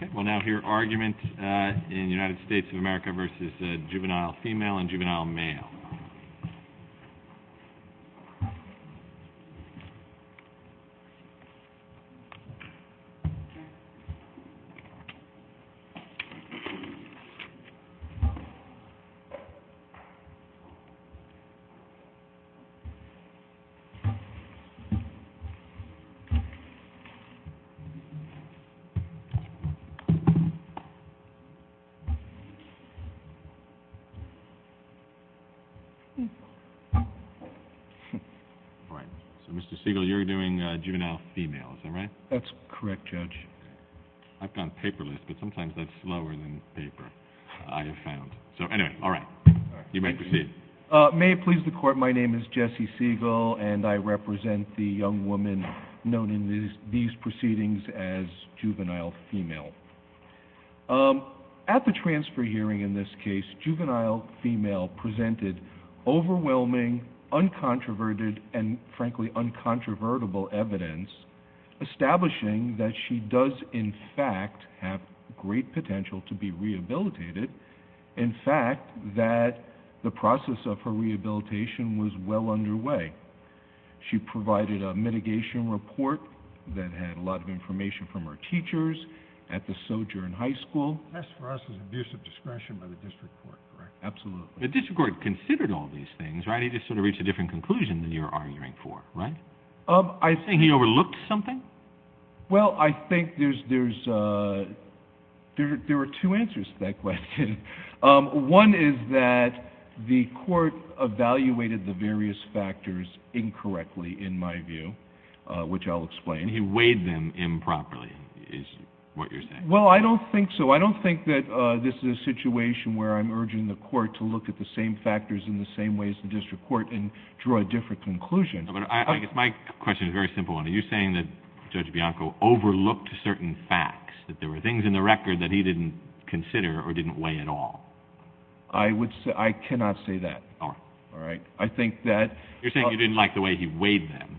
Okay, we'll now hear argument in the United States of America v. Juvenile Female and Juvenile Male. All right, so Mr. Siegel, you're doing Juvenile Female, is that right? That's correct, Judge. I've gone paperless, but sometimes that's slower than paper, I have found. So anyway, all right, you may proceed. May it please the Court, my name is Jesse Siegel, and I represent the young woman known in these proceedings as Juvenile Female. At the transfer hearing in this case, Juvenile Female presented overwhelming, uncontroverted, and frankly uncontrovertible evidence establishing that she does in fact have great potential to be rehabilitated, in fact that the process of her rehabilitation was well underway. She provided a mitigation report that had a lot of information from her teachers at the Sojourn High School. That's for us an abuse of discretion by the District Court, correct? Absolutely. The District Court considered all these things, right? He just sort of reached a different conclusion than you're arguing for, right? I think he overlooked something. Well, I think there's, there are two answers to that question. One is that the Court evaluated the various factors incorrectly, in my view, which I'll explain. He weighed them improperly, is what you're saying. Well, I don't think so. I don't think that this is a situation where I'm urging the Court to look at the same factors in the same way as the District Court and draw a different conclusion. My question is a very simple one. Are you saying that Judge Bianco overlooked certain facts, that there were things in the record that he didn't consider or didn't weigh at all? I cannot say that. All right. I think that... You're saying you didn't like the way he weighed them.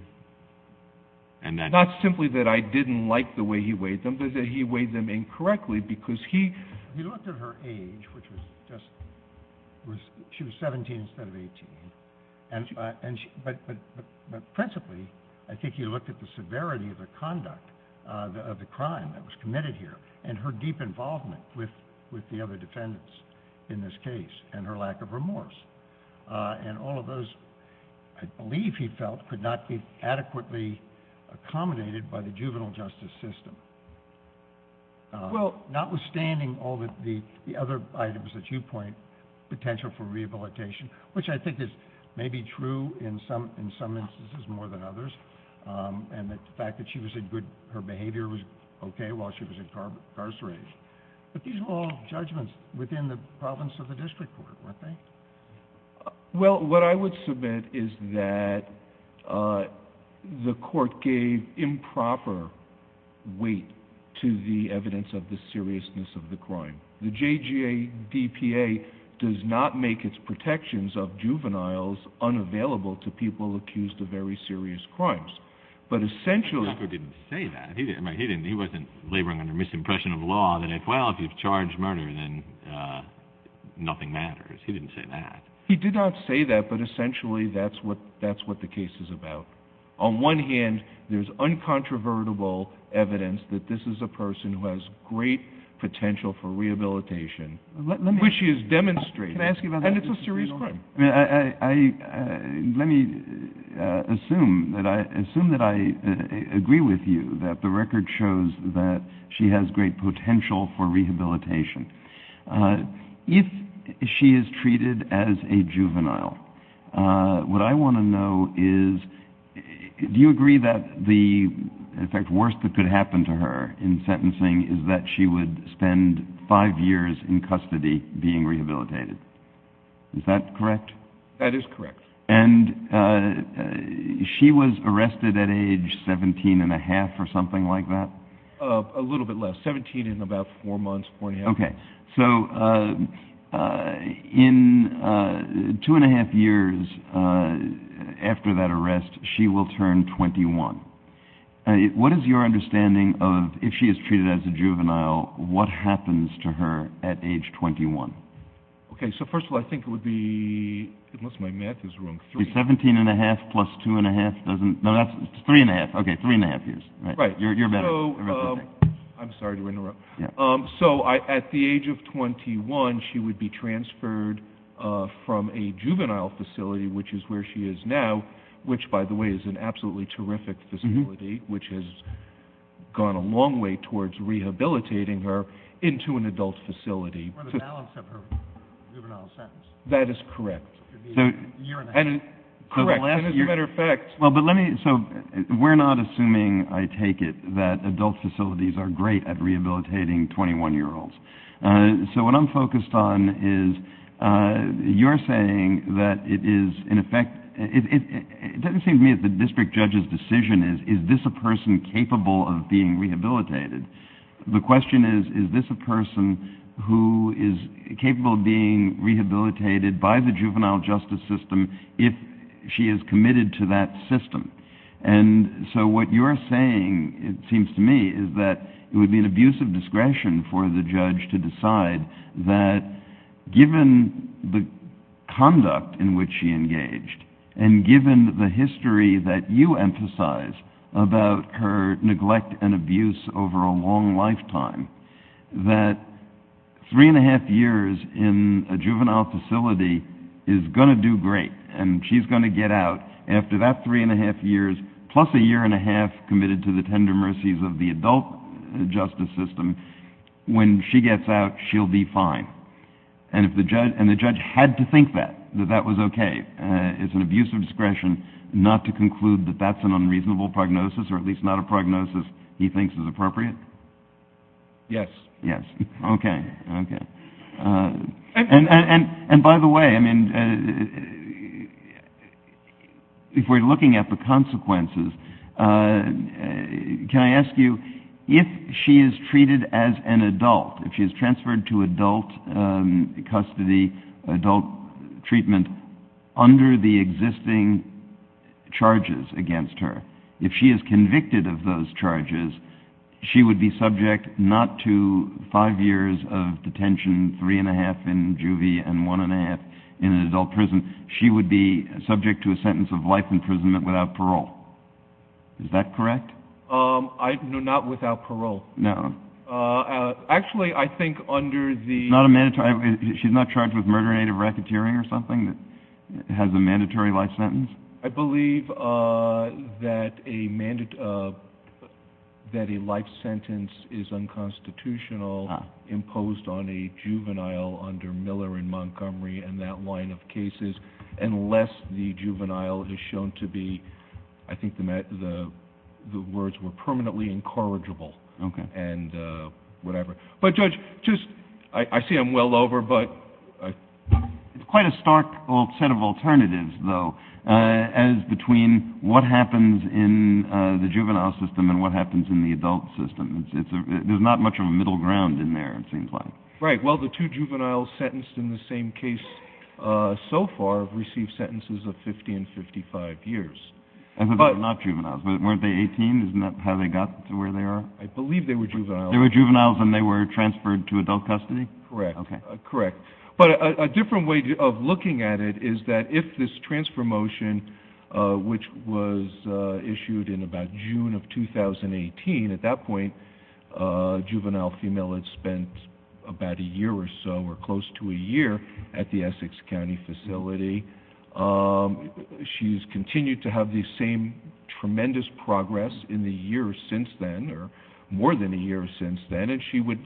Not simply that I didn't like the way he weighed them, but that he weighed them incorrectly because he... He looked at her age, which was just, she was 17 instead of 18, but principally, I think he looked at the severity of the conduct, of the crime that was committed here, and her deep involvement with the other defendants in this case, and her lack of remorse. And all of those, I believe he felt, could not be adequately accommodated by the juvenile justice system. Well, notwithstanding all the other items that you point, potential for rehabilitation, which I think is maybe true in some instances more than others, and the fact that she was in good, her behavior was okay while she was incarcerated, but these are all judgments within the province of the District Court, weren't they? Well, what I would submit is that the court gave improper weight to the evidence of the seriousness of the crime. The JGADPA does not make its protections of juveniles unavailable to people accused of very serious crimes. But essentially... Well, if you've charged murder, then nothing matters. He didn't say that. He did not say that, but essentially that's what the case is about. On one hand, there's uncontrovertible evidence that this is a person who has great potential for rehabilitation, which she has demonstrated, and it's a serious crime. Let me assume that I agree with you that the record shows that she has great potential for rehabilitation. If she is treated as a juvenile, what I want to know is, do you agree that the worst that could happen to her in sentencing is that she would spend five years in custody being rehabilitated? Is that correct? That is correct. And she was arrested at age 17 and a half or something like that? A little bit less. 17 and about four months, four and a half. Okay. So in two and a half years after that arrest, she will turn 21. What is your understanding of, if she is treated as a juvenile, what happens to her at age 21? Okay, so first of all, I think it would be, unless my math is wrong, three. 17 and a half plus two and a half doesn't, no, that's three and a half. Okay, three and a half years. Right. You're better. I'm sorry to interrupt. So at the age of 21, she would be transferred from a juvenile facility, which is where she is now, which by the way is an absolutely terrific facility, which has gone a long way towards rehabilitating her, into an adult facility. Or the balance of her juvenile sentence. That is correct. It would be a year and a half. Correct. As a matter of fact. So we're not assuming, I take it, that adult facilities are great at rehabilitating 21-year-olds. So what I'm focused on is you're saying that it is, in effect, it doesn't seem to me that the district judge's decision is, is this a person capable of being rehabilitated? The question is, is this a person who is capable of being rehabilitated by the juvenile justice system if she is committed to that system? And so what you're saying, it seems to me, is that it would be an abuse of discretion for the judge to decide that given the conduct in which she engaged, and given the history that you emphasize about her neglect and abuse over a long lifetime, that three and a half years in a juvenile facility is going to do great. And she's going to get out. And after that three and a half years, plus a year and a half committed to the tender mercies of the adult justice system, when she gets out, she'll be fine. And if the judge, and the judge had to think that, that that was okay, as an abuse of discretion, not to conclude that that's an unreasonable prognosis, or at least not a prognosis he thinks is appropriate? Yes. Yes. Okay. Okay. And by the way, I mean, if we're looking at the consequences, can I ask you, if she is treated as an adult, if she is transferred to adult custody, adult treatment, under the existing charges against her, if she is convicted of those charges, she would be subject not to five years of detention, three and a half, in juvie, and one and a half in an adult prison, she would be subject to a sentence of life imprisonment without parole. Is that correct? No, not without parole. No. Actually, I think under the... She's not charged with murder, native racketeering, or something that has a mandatory life sentence? I believe that a life sentence is unconstitutional imposed on a juvenile under Miller and Montgomery and that line of cases, unless the juvenile is shown to be, I think the words were permanently incorrigible. Okay. And whatever. But, Judge, just, I see I'm well over, but... It's quite a stark set of alternatives, though, as between what happens in the juvenile system and what happens in the adult system. There's not much of a middle ground in there, it seems like. Right. Well, the two juveniles sentenced in the same case so far have received sentences of 50 and 55 years. I thought they were not juveniles. Weren't they 18? Isn't that how they got to where they are? I believe they were juveniles. They were juveniles and they were transferred to adult custody? Correct. Okay. Correct. But a different way of looking at it is that if this transfer motion, which was issued in about June of 2018, at that point, a juvenile female had spent about a year or so, or close to a year, at the Essex County facility. She's continued to have the same tremendous progress in the years since then, or more than a year since then, and she would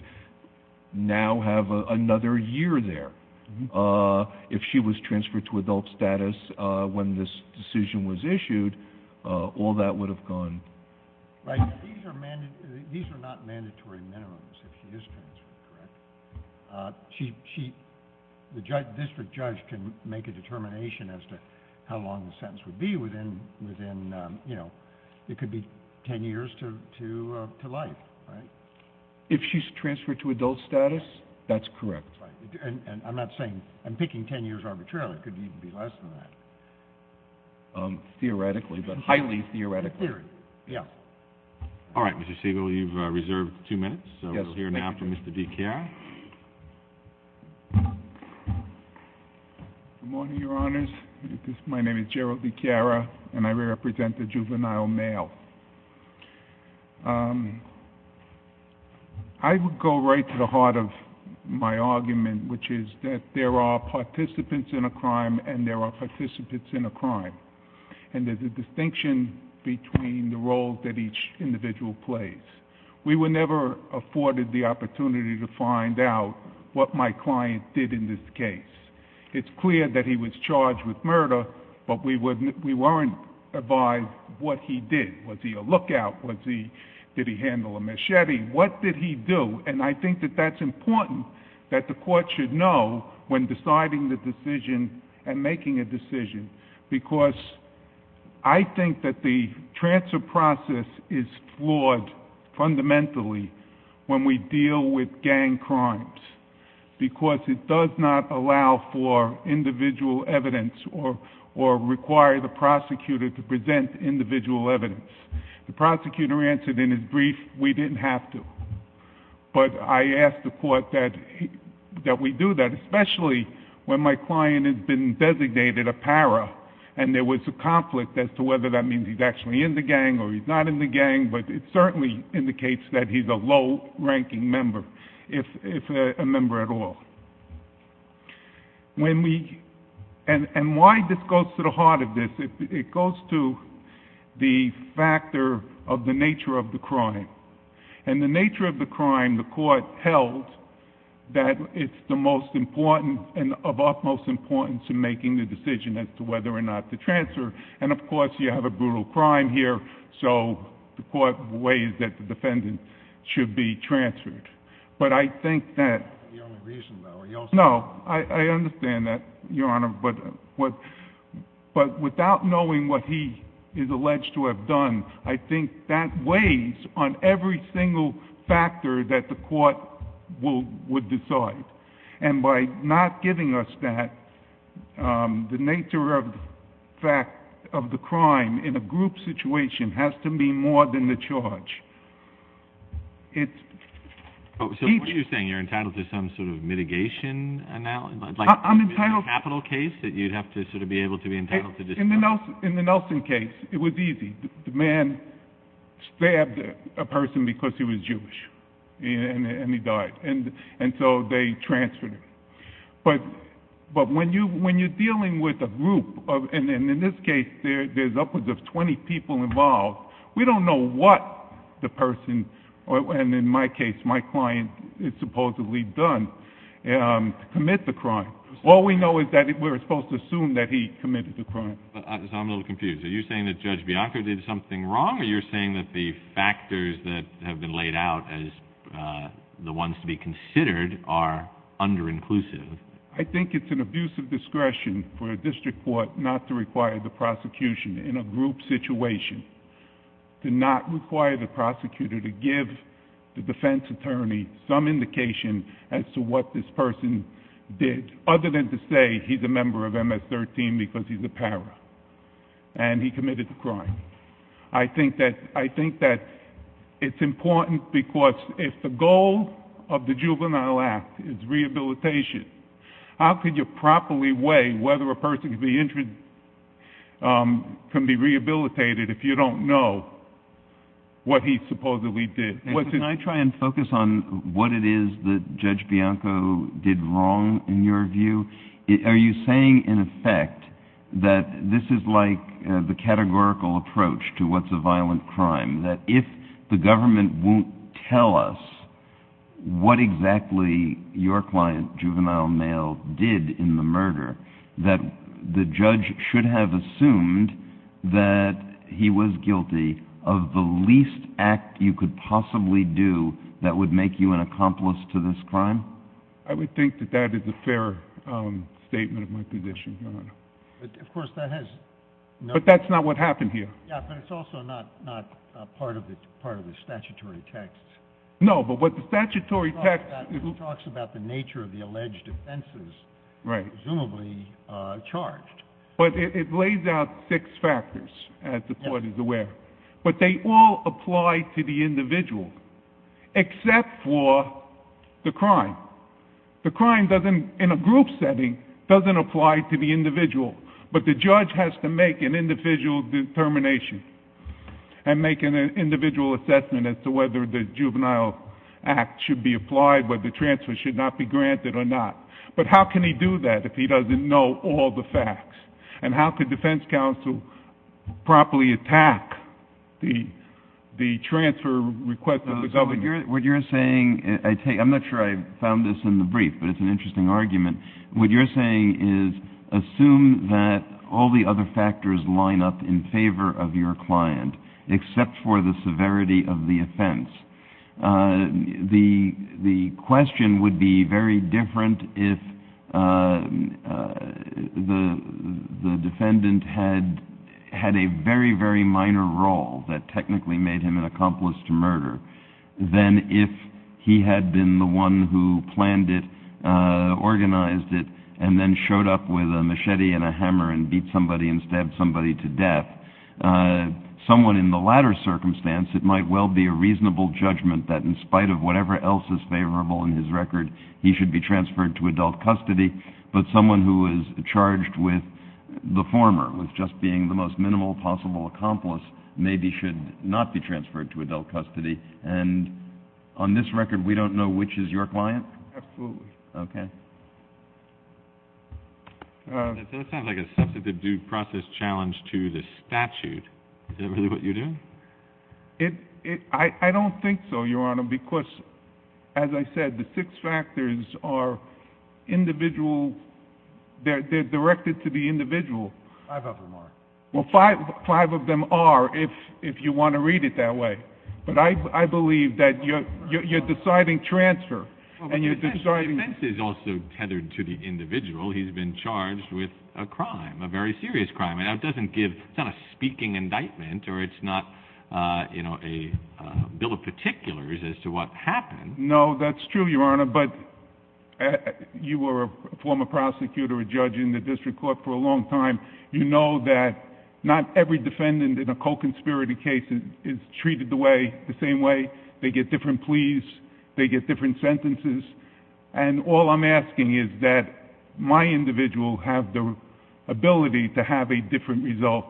now have another year there. If she was transferred to adult status when this decision was issued, all that would have gone... Right. These are not mandatory minimums if she is transferred, correct? The district judge can make a determination as to how long the sentence would be within... it could be 10 years to life, right? If she's transferred to adult status, that's correct. That's right. I'm not saying... I'm picking 10 years arbitrarily. It could even be less than that. Theoretically, but highly theoretically. In theory. Yeah. All right, Mr. Siegel, you've reserved two minutes. Yes, thank you. Thank you, Mr. DiChiara. Good morning, Your Honors. My name is Gerald DiChiara, and I represent the juvenile male. I would go right to the heart of my argument, which is that there are participants in a crime, and there are participants in a crime. And there's a distinction between the roles that each individual plays. We were never afforded the opportunity to find out what my client did in this case. It's clear that he was charged with murder, but we weren't advised what he did. Was he a lookout? Did he handle a machete? What did he do? And I think that that's important that the court should know when deciding the decision and making a decision, because I think that the transfer process is flawed fundamentally when we deal with gang crimes, because it does not allow for individual evidence or require the prosecutor to present individual evidence. The prosecutor answered in his brief, we didn't have to. But I ask the court that we do that, especially when my client has been designated a para, and there was a conflict as to whether that means he's actually in the gang or he's not in the gang, but it certainly indicates that he's a low-ranking member, if a member at all. And why this goes to the heart of this? It goes to the factor of the nature of the crime. And the nature of the crime, the court held that it's the most important and of utmost importance in making the decision as to whether or not to transfer. And, of course, you have a brutal crime here, so the court weighs that the defendant should be transferred. But I think that... Your only reason, though, are you also... No, I understand that, Your Honor, but without knowing what he is alleged to have done, I think that weighs on every single factor that the court would decide. And by not giving us that, the nature of the crime in a group situation has to be more than the charge. So what are you saying? You're entitled to some sort of mitigation analysis? I'm entitled... Like in a capital case that you'd have to sort of be able to be entitled to... In the Nelson case, it was easy. The man stabbed a person because he was Jewish, and he died. And so they transferred him. But when you're dealing with a group, and in this case, there's upwards of 20 people involved, we don't know what the person, and in my case, my client, had supposedly done to commit the crime. All we know is that we're supposed to assume that he committed the crime. So I'm a little confused. Are you saying that Judge Bianco did something wrong, or are you saying that the factors that have been laid out as the ones to be considered are under-inclusive? I think it's an abuse of discretion for a district court not to require the prosecution in a group situation to not require the prosecutor to give the defense attorney some indication as to what this person did, other than to say he's a member of MS-13 because he's a para, and he committed the crime. I think that it's important because if the goal of the Juvenile Act is rehabilitation, how could you properly weigh whether a person can be rehabilitated if you don't know what he supposedly did? Can I try and focus on what it is that Judge Bianco did wrong, in your view? Are you saying, in effect, that this is like the categorical approach to what's a violent crime, that if the government won't tell us what exactly your client, Juvenile Mail, did in the murder, that the judge should have assumed that he was guilty of the least act you could possibly do that would make you an accomplice to this crime? I would think that that is a fair statement of my position, Your Honor. Of course, that has no— But that's not what happened here. Yeah, but it's also not part of the statutory text. No, but what the statutory text— It talks about the nature of the alleged offenses, presumably charged. But it lays out six factors, as the Court is aware. But they all apply to the individual, except for the crime. The crime, in a group setting, doesn't apply to the individual, but the judge has to make an individual determination and make an individual assessment as to whether the Juvenile Act should be applied, whether the transfer should not be granted or not. But how can he do that if he doesn't know all the facts? And how could defense counsel properly attack the transfer request of the government? What you're saying—I'm not sure I found this in the brief, but it's an interesting argument. What you're saying is, assume that all the other factors line up in favor of your client, except for the severity of the offense. The question would be very different if the defendant had a very, very minor role that technically made him an accomplice to murder than if he had been the one who planned it, organized it, and then showed up with a machete and a hammer and beat somebody and stabbed somebody to death. Someone in the latter circumstance, it might well be a reasonable judgment that in spite of whatever else is favorable in his record, he should be transferred to adult custody. But someone who is charged with the former, with just being the most minimal possible accomplice, maybe should not be transferred to adult custody. And on this record, we don't know which is your client? Absolutely. Okay. That sounds like a substantive due process challenge to the statute. Is that really what you're doing? I don't think so, Your Honor, because, as I said, the six factors are individual. They're directed to the individual. Five of them are. Well, five of them are if you want to read it that way. But I believe that you're deciding transfer. The defense is also tethered to the individual. He's been charged with a crime, a very serious crime. It doesn't give a speaking indictment, or it's not a bill of particulars as to what happened. No, that's true, Your Honor. But you were a former prosecutor, a judge in the district court for a long time. You know that not every defendant in a co-conspirator case is treated the same way. They get different pleas. They get different sentences. And all I'm asking is that my individual have the ability to have a different result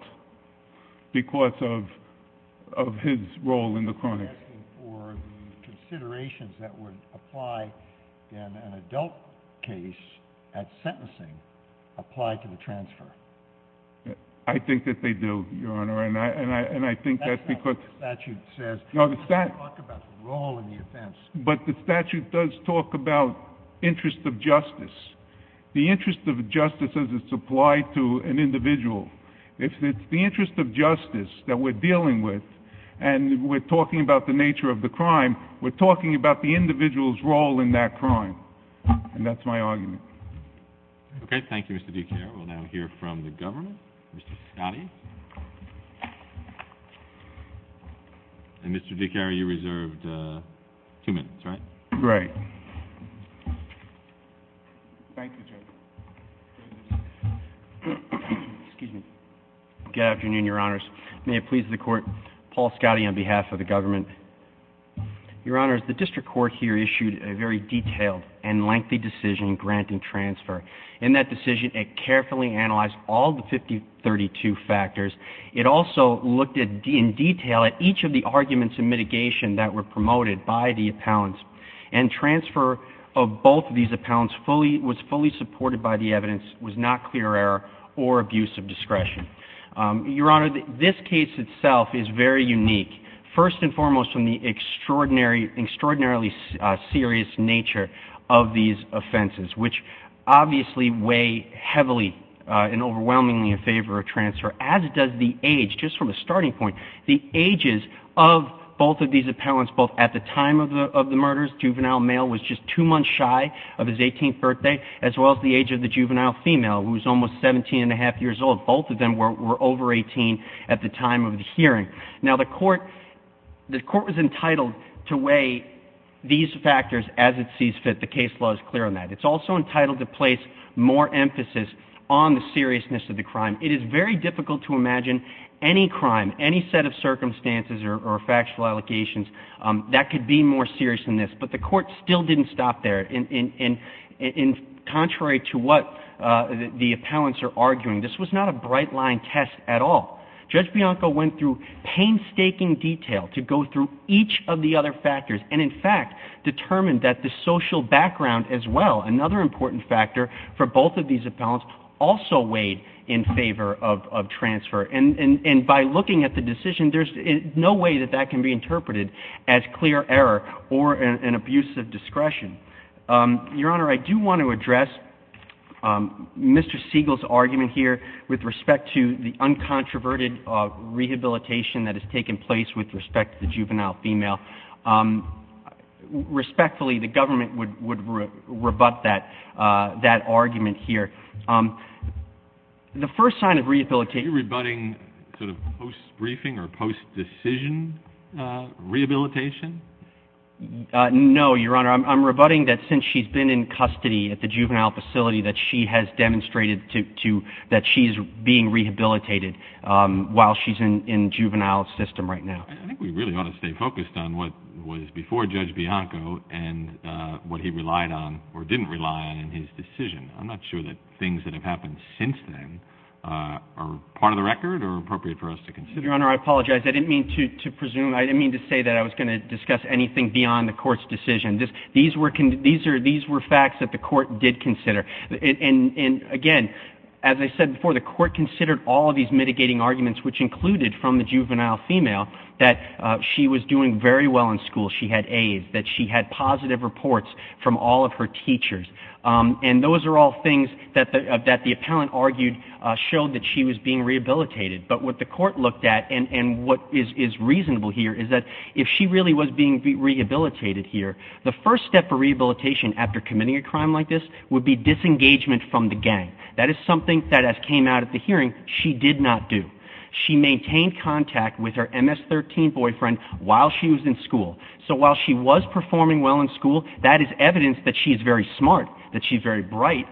because of his role in the crime. I'm asking for the considerations that would apply in an adult case at sentencing apply to the transfer. I think that they do, Your Honor, and I think that's because... That's not what the statute says. No, the statute... It doesn't talk about the role in the offense. But the statute does talk about interest of justice, the interest of justice as it's applied to an individual. If it's the interest of justice that we're dealing with, and we're talking about the nature of the crime, we're talking about the individual's role in that crime. And that's my argument. Okay, thank you, Mr. DiCaro. We'll now hear from the government. Mr. Scotti. And, Mr. DiCaro, you reserved two minutes, right? Right. Thank you, Judge. Good afternoon, Your Honors. May it please the Court, Paul Scotti on behalf of the government. Your Honors, the district court here issued a very detailed and lengthy decision granting transfer. In that decision, it carefully analyzed all the 5032 factors. It also looked in detail at each of the arguments in mitigation that were promoted by the appellants. And transfer of both of these appellants was fully supported by the evidence, was not clear error or abuse of discretion. Your Honor, this case itself is very unique, first and foremost, from the extraordinarily serious nature of these offenses, which obviously weigh heavily and overwhelmingly in favor of transfer, as does the age, just from a starting point. The ages of both of these appellants, both at the time of the murders, juvenile male was just two months shy of his 18th birthday, as well as the age of the juvenile female, who was almost 17 and a half years old. Both of them were over 18 at the time of the hearing. Now, the Court was entitled to weigh these factors as it sees fit. The case law is clear on that. It's also entitled to place more emphasis on the seriousness of the crime. It is very difficult to imagine any crime, any set of circumstances or factual allegations, that could be more serious than this. But the Court still didn't stop there. Contrary to what the appellants are arguing, this was not a bright-line test at all. Judge Bianco went through painstaking detail to go through each of the other factors and, in fact, determined that the social background as well, another important factor for both of these appellants, also weighed in favor of transfer. And by looking at the decision, there's no way that that can be interpreted as clear error or an abuse of discretion. Your Honor, I do want to address Mr. Siegel's argument here with respect to the uncontroverted rehabilitation that has taken place with respect to the juvenile female. Respectfully, the government would rebut that argument here. The first sign of rehabilitation... Are you rebutting sort of post-briefing or post-decision rehabilitation? No, Your Honor. I'm rebutting that since she's been in custody at the juvenile facility, that she has demonstrated that she's being rehabilitated while she's in juvenile system right now. I think we really ought to stay focused on what was before Judge Bianco and what he relied on or didn't rely on in his decision. I'm not sure that things that have happened since then are part of the record or appropriate for us to consider. Your Honor, I apologize. I didn't mean to presume. I didn't mean to say that I was going to discuss anything beyond the Court's decision. These were facts that the Court did consider. And, again, as I said before, the Court considered all of these mitigating arguments, which included from the juvenile female that she was doing very well in school, she had A's, that she had positive reports from all of her teachers. And those are all things that the appellant argued showed that she was being rehabilitated. But what the Court looked at, and what is reasonable here, is that if she really was being rehabilitated here, the first step for rehabilitation after committing a crime like this would be disengagement from the gang. That is something that, as came out at the hearing, she did not do. She maintained contact with her MS-13 boyfriend while she was in school. So while she was performing well in school, that is evidence that she's very smart, that she's very bright.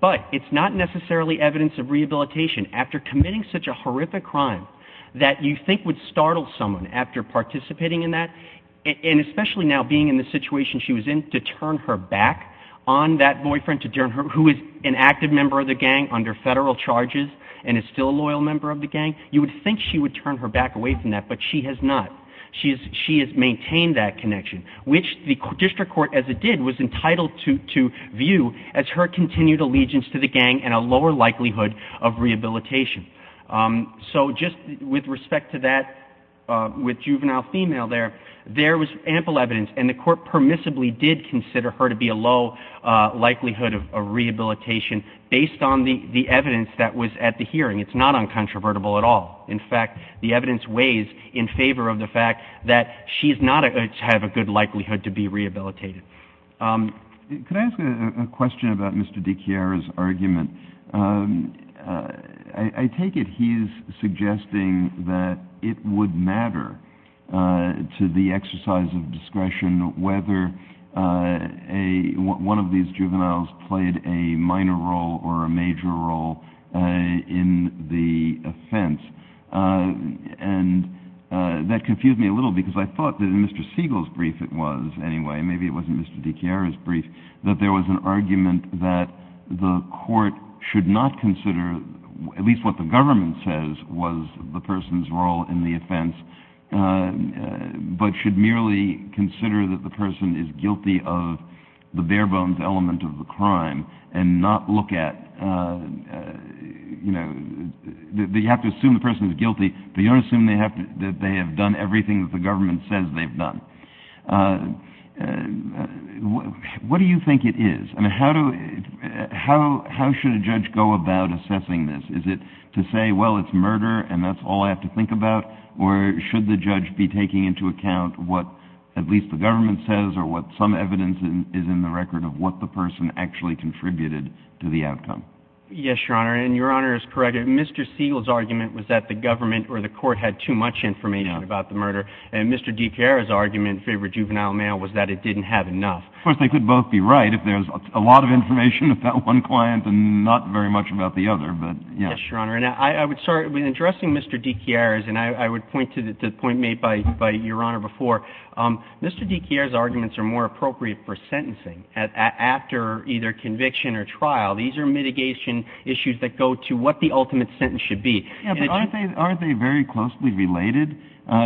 But it's not necessarily evidence of rehabilitation after committing such a horrific crime that you think would startle someone after participating in that, and especially now being in the situation she was in, to turn her back on that boyfriend who is an active member of the gang under federal charges and is still a loyal member of the gang. You would think she would turn her back away from that, but she has not. She has maintained that connection, which the District Court, as it did, was entitled to view as her continued allegiance to the gang and a lower likelihood of rehabilitation. So just with respect to that with juvenile female there, there was ample evidence, and the Court permissibly did consider her to be a low likelihood of rehabilitation based on the evidence that was at the hearing. It's not uncontrovertible at all. In fact, the evidence weighs in favor of the fact that she does not have a good likelihood to be rehabilitated. Could I ask a question about Mr. DiChiara's argument? I take it he's suggesting that it would matter to the exercise of discretion whether one of these juveniles played a minor role or a major role in the offense. And that confused me a little because I thought that in Mr. Siegel's brief it was, anyway, maybe it wasn't Mr. DiChiara's brief, that there was an argument that the Court should not consider, at least what the government says was the person's role in the offense, but should merely consider that the person is guilty of the bare-bones element of the crime and not look at, you know, you have to assume the person is guilty, but you don't assume that they have done everything that the government says they've done. What do you think it is, and how should a judge go about assessing this? Is it to say, well, it's murder and that's all I have to think about, or should the judge be taking into account what at least the government says or what some evidence is in the record of what the person actually contributed to the outcome? Yes, Your Honor, and Your Honor is correct. Mr. Siegel's argument was that the government or the Court had too much information about the murder, and Mr. DiChiara's argument in favor of juvenile mail was that it didn't have enough. Of course, they could both be right if there's a lot of information about one client and not very much about the other, but yes. Yes, Your Honor, and I would start with addressing Mr. DiChiara's, and I would point to the point made by Your Honor before. Mr. DiChiara's arguments are more appropriate for sentencing after either conviction or trial. These are mitigation issues that go to what the ultimate sentence should be. Aren't they very closely related?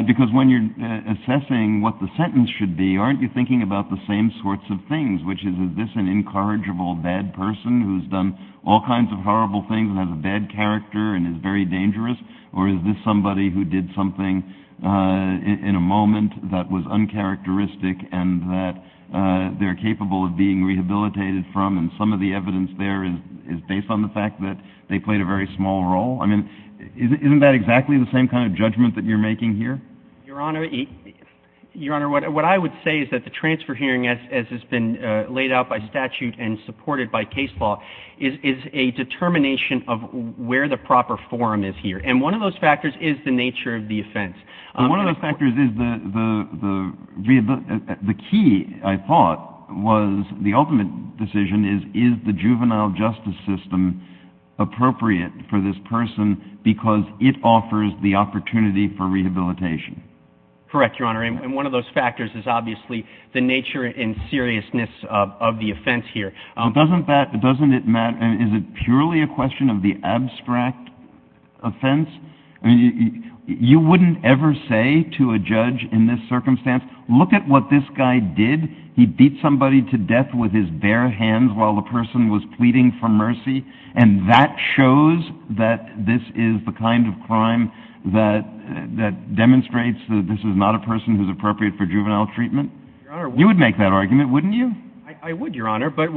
Because when you're assessing what the sentence should be, aren't you thinking about the same sorts of things, which is, is this an incorrigible bad person who's done all kinds of horrible things and has a bad character and is very dangerous, or is this somebody who did something in a moment that was uncharacteristic and that they're capable of being rehabilitated from, and some of the evidence there is based on the fact that they played a very small role? I mean, isn't that exactly the same kind of judgment that you're making here? Your Honor, what I would say is that the transfer hearing, as has been laid out by statute and supported by case law, is a determination of where the proper forum is here, and one of those factors is the nature of the offense. One of those factors is the key, I thought, was the ultimate decision is, is the juvenile justice system appropriate for this person because it offers the opportunity for rehabilitation. Correct, Your Honor. And one of those factors is obviously the nature and seriousness of the offense here. Doesn't it matter? Is it purely a question of the abstract offense? I mean, you wouldn't ever say to a judge in this circumstance, look at what this guy did. He beat somebody to death with his bare hands while the person was pleading for mercy, and that shows that this is the kind of crime that demonstrates that this is not a person who's appropriate for juvenile treatment. You would make that argument, wouldn't you? I would, Your Honor. But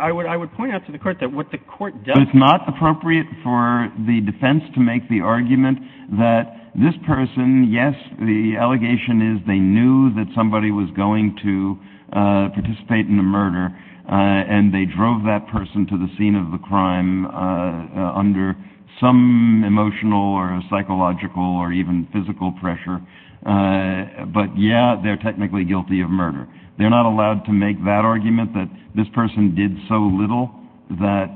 I would point out to the court that what the court does— But it's not appropriate for the defense to make the argument that this person, yes, the allegation is they knew that somebody was going to participate in the murder and they drove that person to the scene of the crime under some emotional or psychological or even physical pressure. But, yeah, they're technically guilty of murder. They're not allowed to make that argument that this person did so little that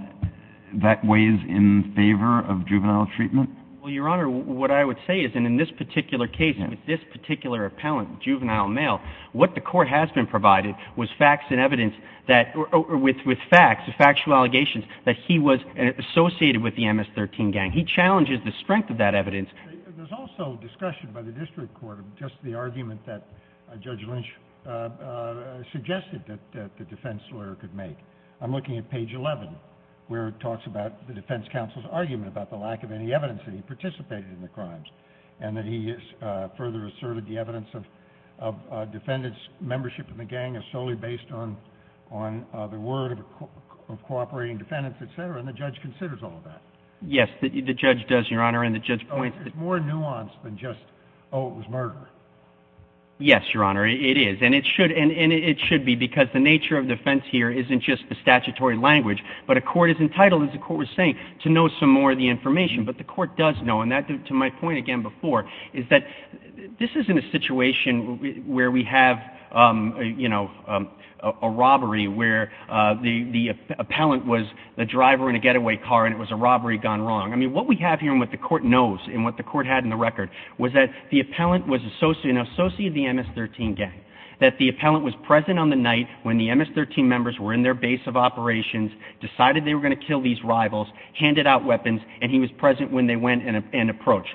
that weighs in favor of juvenile treatment? Well, Your Honor, what I would say is in this particular case, with this particular appellant, juvenile male, what the court has been provided with facts and evidence that— with facts, factual allegations that he was associated with the MS-13 gang. He challenges the strength of that evidence. There's also discussion by the district court of just the argument that Judge Lynch suggested that the defense lawyer could make. Yes, the judge does, Your Honor, and the judge points— Oh, it's more nuanced than just, oh, it was murder. Yes, Your Honor, it is, and it should be, because the nature of defense here isn't just the statutory language, but a court is entitled, as the court was saying, to know some more of the information and that's what the court has been provided with. But the court does know, and to my point again before, is that this isn't a situation where we have a robbery where the appellant was the driver in a getaway car and it was a robbery gone wrong. I mean, what we have here and what the court knows and what the court had in the record was that the appellant was an associate of the MS-13 gang, that the appellant was present on the night when the MS-13 members were in their base of operations, decided they were going to kill these rivals, handed out weapons, and he was present when they went and approached.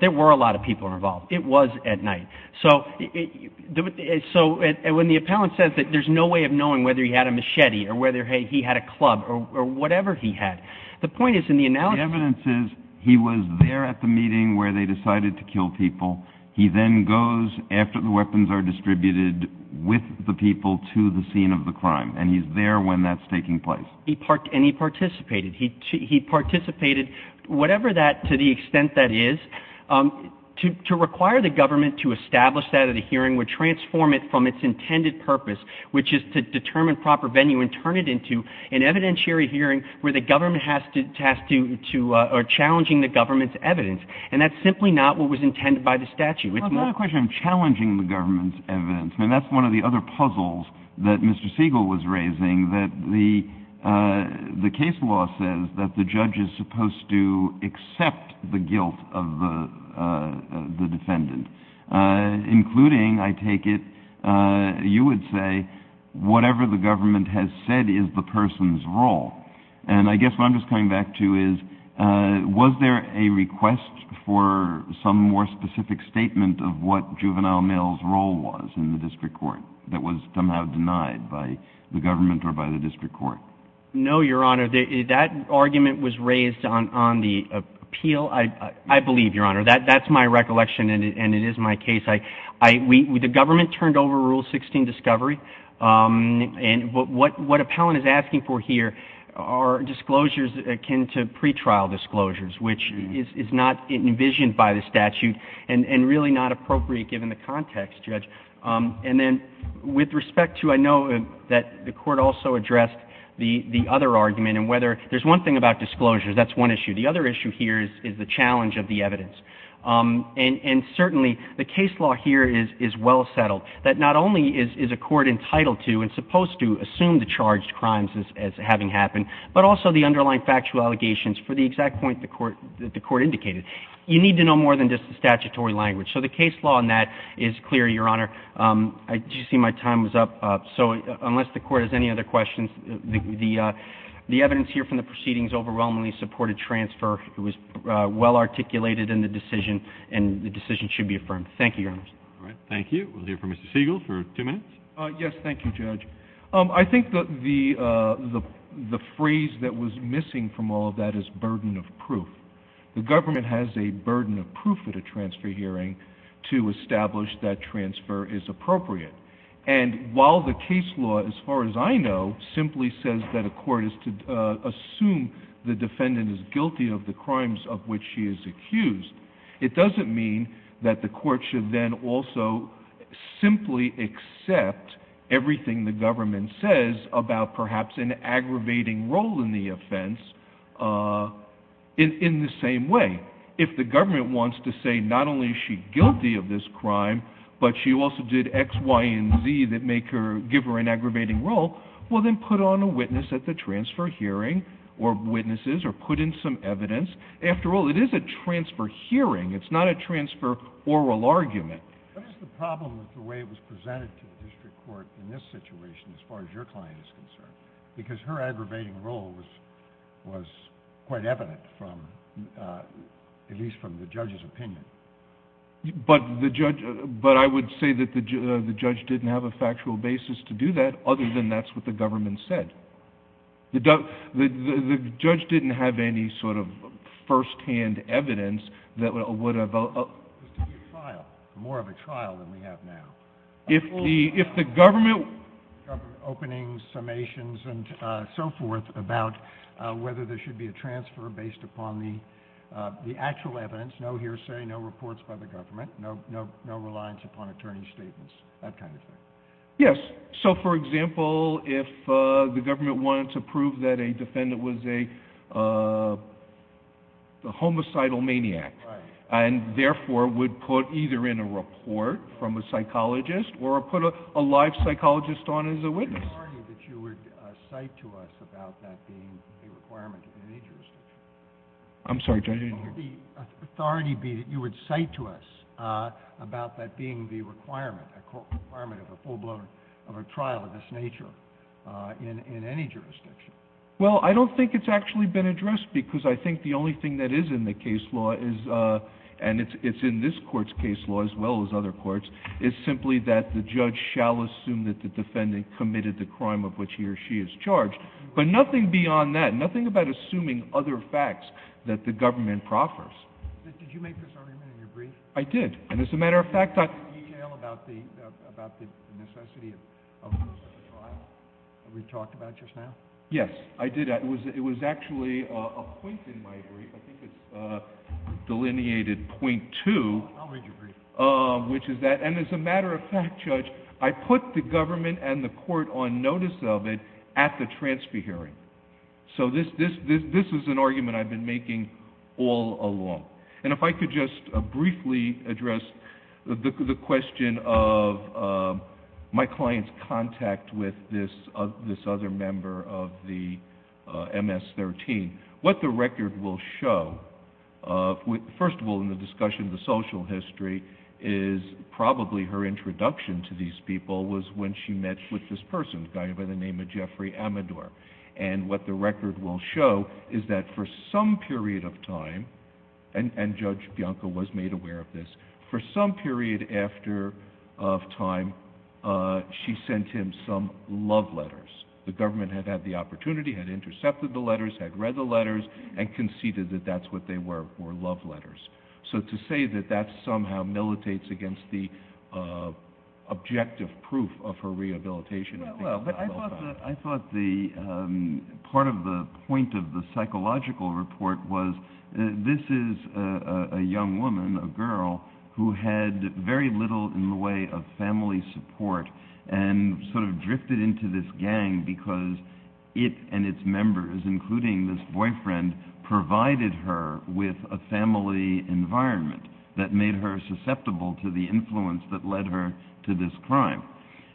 There were a lot of people involved. It was at night. So when the appellant says that there's no way of knowing whether he had a machete or whether he had a club or whatever he had, the point is in the analogy— The evidence is he was there at the meeting where they decided to kill people. He then goes after the weapons are distributed with the people to the scene of the crime, and he's there when that's taking place. And he participated. He participated, whatever that, to the extent that is. To require the government to establish that at a hearing would transform it from its intended purpose, which is to determine proper venue and turn it into an evidentiary hearing where the government has to—or challenging the government's evidence. And that's simply not what was intended by the statute. Well, it's not a question of challenging the government's evidence. And that's one of the other puzzles that Mr. Siegel was raising, that the case law says that the judge is supposed to accept the guilt of the defendant, including, I take it, you would say, whatever the government has said is the person's role. And I guess what I'm just coming back to is, was there a request for some more specific statement of what Juvenile Mill's role was in the district court that was somehow denied by the government or by the district court? No, Your Honor. That argument was raised on the appeal, I believe, Your Honor. That's my recollection, and it is my case. The government turned over Rule 16 discovery. And what appellant is asking for here are disclosures akin to pretrial disclosures, which is not envisioned by the statute and really not appropriate given the context, Judge. And then with respect to—I know that the Court also addressed the other argument, and whether—there's one thing about disclosures. That's one issue. The other issue here is the challenge of the evidence. And certainly the case law here is well settled, that not only is a court entitled to and supposed to assume the charged crimes as having happened, but also the underlying factual allegations for the exact point that the Court indicated. You need to know more than just the statutory language. So the case law on that is clear, Your Honor. I do see my time is up. So unless the Court has any other questions, the evidence here from the proceedings overwhelmingly supported transfer. It was well articulated in the decision, and the decision should be affirmed. Thank you, Your Honor. All right. Thank you. We'll hear from Mr. Siegel for two minutes. Yes, thank you, Judge. I think the phrase that was missing from all of that is burden of proof. The government has a burden of proof at a transfer hearing to establish that transfer is appropriate. And while the case law, as far as I know, simply says that a court is to assume the defendant is guilty of the crimes of which she is accused, it doesn't mean that the court should then also simply accept everything the government says about perhaps an aggravating role in the offense in the same way. If the government wants to say not only is she guilty of this crime, but she also did X, Y, and Z that make her give her an aggravating role, well, then put on a witness at the transfer hearing, or witnesses, or put in some evidence. After all, it is a transfer hearing. It's not a transfer oral argument. What is the problem with the way it was presented to the district court in this situation, as far as your client is concerned? Because her aggravating role was quite evident, at least from the judge's opinion. But I would say that the judge didn't have a factual basis to do that, other than that's what the government said. The judge didn't have any sort of first-hand evidence that would have ---- More of a trial than we have now. If the government ---- Opening summations and so forth about whether there should be a transfer based upon the actual evidence, no hearsay, no reports by the government, no reliance upon attorney's statements, that kind of thing. Yes. So, for example, if the government wanted to prove that a defendant was a homicidal maniac, and therefore would put either in a report from a psychologist or put a live psychologist on as a witness. Would the authority that you would cite to us about that being a requirement of any jurisdiction? I'm sorry, Judge? Would the authority be that you would cite to us about that being the requirement, a requirement of a full blown, of a trial of this nature in any jurisdiction? Well, I don't think it's actually been addressed because I think the only thing that is in the case law is, and it's in this Court's case law as well as other courts, is simply that the judge shall assume that the defendant committed the crime of which he or she is charged. But nothing beyond that, nothing about assuming other facts that the government proffers. Did you make this argument in your brief? I did. And as a matter of fact, I— Did you detail about the necessity of a trial that we talked about just now? Yes, I did. It was actually a point in my brief. I'll read your brief. And as a matter of fact, Judge, I put the government and the Court on notice of it at the transfer hearing. So this is an argument I've been making all along. And if I could just briefly address the question of my client's contact with this other member of the MS-13, what the record will show—first of all, in the discussion of the social history is probably her introduction to these people was when she met with this person, a guy by the name of Jeffrey Amador. And what the record will show is that for some period of time—and Judge Bianco was made aware of this— for some period after time, she sent him some love letters. The government had had the opportunity, had intercepted the letters, had read the letters, and conceded that that's what they were, were love letters. So to say that that somehow militates against the objective proof of her rehabilitation— Well, I thought the—part of the point of the psychological report was this is a young woman, a girl, who had very little in the way of family support and sort of drifted into this gang because it and its members, including this boyfriend, provided her with a family environment that made her susceptible to the influence that led her to this crime.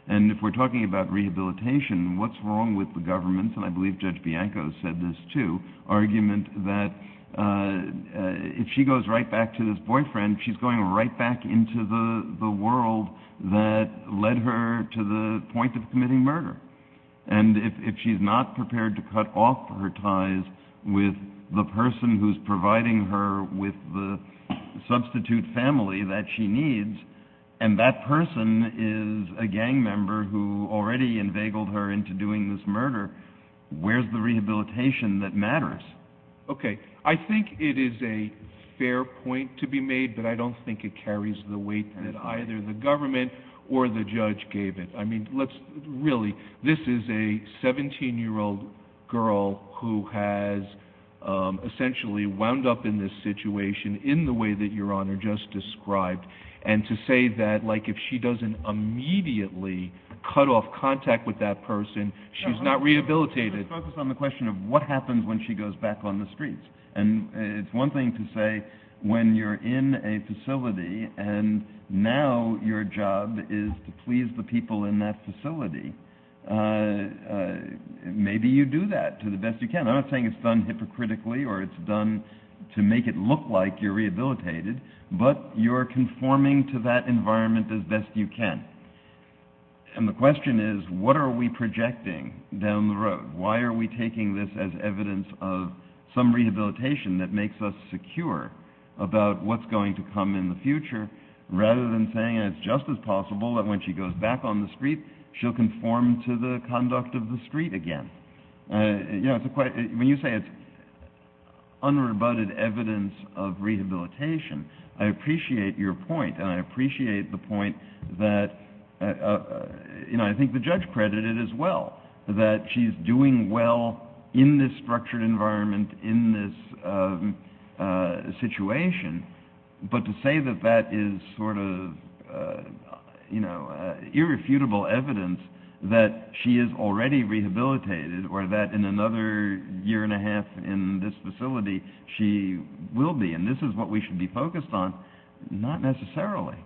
And if we're talking about rehabilitation, what's wrong with the government— and I believe Judge Bianco said this too— bringing her right back into the world that led her to the point of committing murder? And if she's not prepared to cut off her ties with the person who's providing her with the substitute family that she needs, and that person is a gang member who already enveigled her into doing this murder, where's the rehabilitation that matters? Okay. I think it is a fair point to be made, but I don't think it carries the weight that either the government or the judge gave it. I mean, let's—really, this is a 17-year-old girl who has essentially wound up in this situation in the way that Your Honor just described. And to say that, like, if she doesn't immediately cut off contact with that person, she's not rehabilitated— And it's one thing to say, when you're in a facility and now your job is to please the people in that facility, maybe you do that to the best you can. I'm not saying it's done hypocritically or it's done to make it look like you're rehabilitated, but you're conforming to that environment as best you can. And the question is, what are we projecting down the road? Why are we taking this as evidence of some rehabilitation that makes us secure about what's going to come in the future, rather than saying it's just as possible that when she goes back on the street, she'll conform to the conduct of the street again? You know, when you say it's unrebutted evidence of rehabilitation, I appreciate your point, and I appreciate the point that, you know, I think the judge credited as well, that she's doing well in this structured environment, in this situation. But to say that that is sort of, you know, irrefutable evidence that she is already rehabilitated or that in another year and a half in this facility, she will be, and this is what we should be focused on, not necessarily.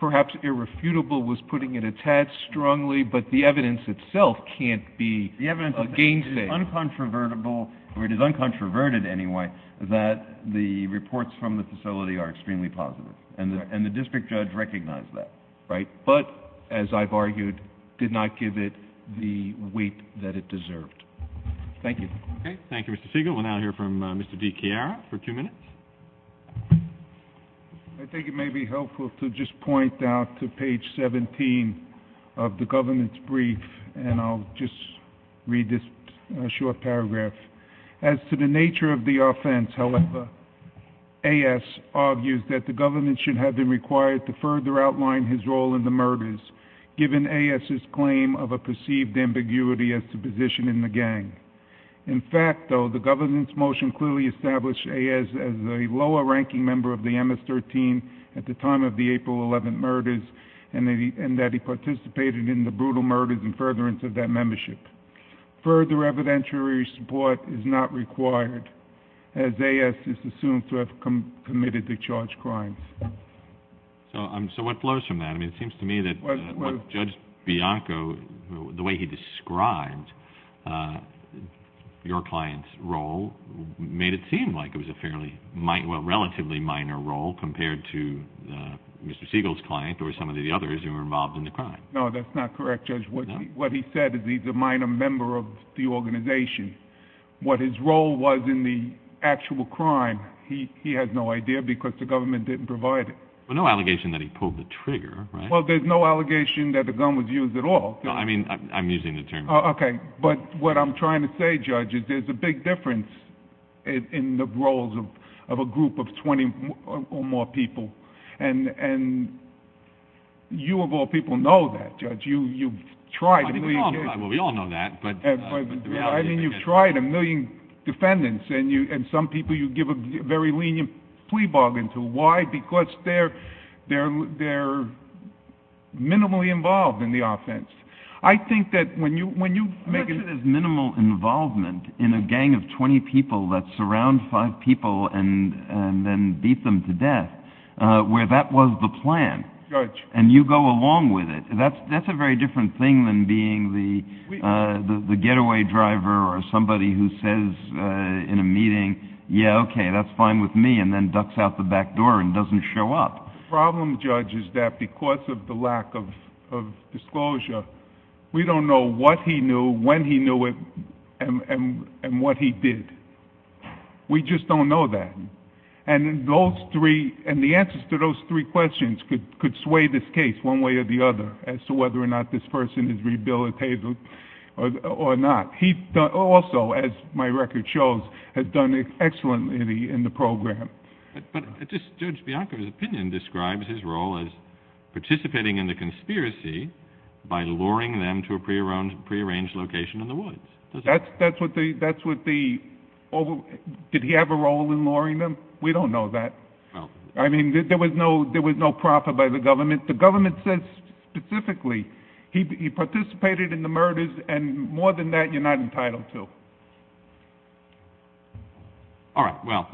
Perhaps irrefutable was putting it a tad strongly, but the evidence itself can't be a gainstake. The evidence is uncontrovertible, or it is uncontroverted anyway, that the reports from the facility are extremely positive. And the district judge recognized that, right? But, as I've argued, did not give it the weight that it deserved. Thank you. Okay, thank you, Mr. Siegel. We'll now hear from Mr. DiChiara for two minutes. I think it may be helpful to just point out to page 17 of the government's brief, and I'll just read this short paragraph. As to the nature of the offense, however, AS argues that the government should have been required to further outline his role in the murders, given AS's claim of a perceived ambiguity as to position in the gang. In fact, though, the government's motion clearly established AS as a lower-ranking member of the MS-13 at the time of the April 11 murders, and that he participated in the brutal murders in furtherance of that membership. Further evidentiary support is not required, as AS is assumed to have committed the charged crimes. So what flows from that? I mean, it seems to me that Judge Bianco, the way he described your client's role, made it seem like it was a relatively minor role compared to Mr. Siegel's client or some of the others who were involved in the crime. No, that's not correct, Judge. What he said is he's a minor member of the organization. What his role was in the actual crime, he has no idea because the government didn't provide it. Well, no allegation that he pulled the trigger, right? Well, there's no allegation that the gun was used at all. I mean, I'm using the term. Okay, but what I'm trying to say, Judge, is there's a big difference in the roles of a group of 20 or more people, and you of all people know that, Judge. You've tried a million cases. Well, we all know that. I mean, you've tried a million defendants, and some people you give a very lenient plea bargain to. Why? Because they're minimally involved in the offense. I think that when you make it as minimal involvement in a gang of 20 people that surround five people and then beat them to death, where that was the plan, and you go along with it, that's a very different thing than being the getaway driver or somebody who says in a meeting, yeah, okay, that's fine with me, and then ducks out the back door and doesn't show up. The problem, Judge, is that because of the lack of disclosure, we don't know what he knew, when he knew it, and what he did. We just don't know that. And the answers to those three questions could sway this case one way or the other as to whether or not this person is rehabilitated or not. He also, as my record shows, has done excellently in the program. But Judge Bianco's opinion describes his role as participating in the conspiracy by luring them to a prearranged location in the woods. Did he have a role in luring them? We don't know that. I mean, there was no profit by the government. The government says specifically he participated in the murders, and more than that, you're not entitled to. All right, well,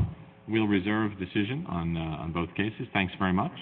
we'll reserve the decision on both cases. Thanks very much.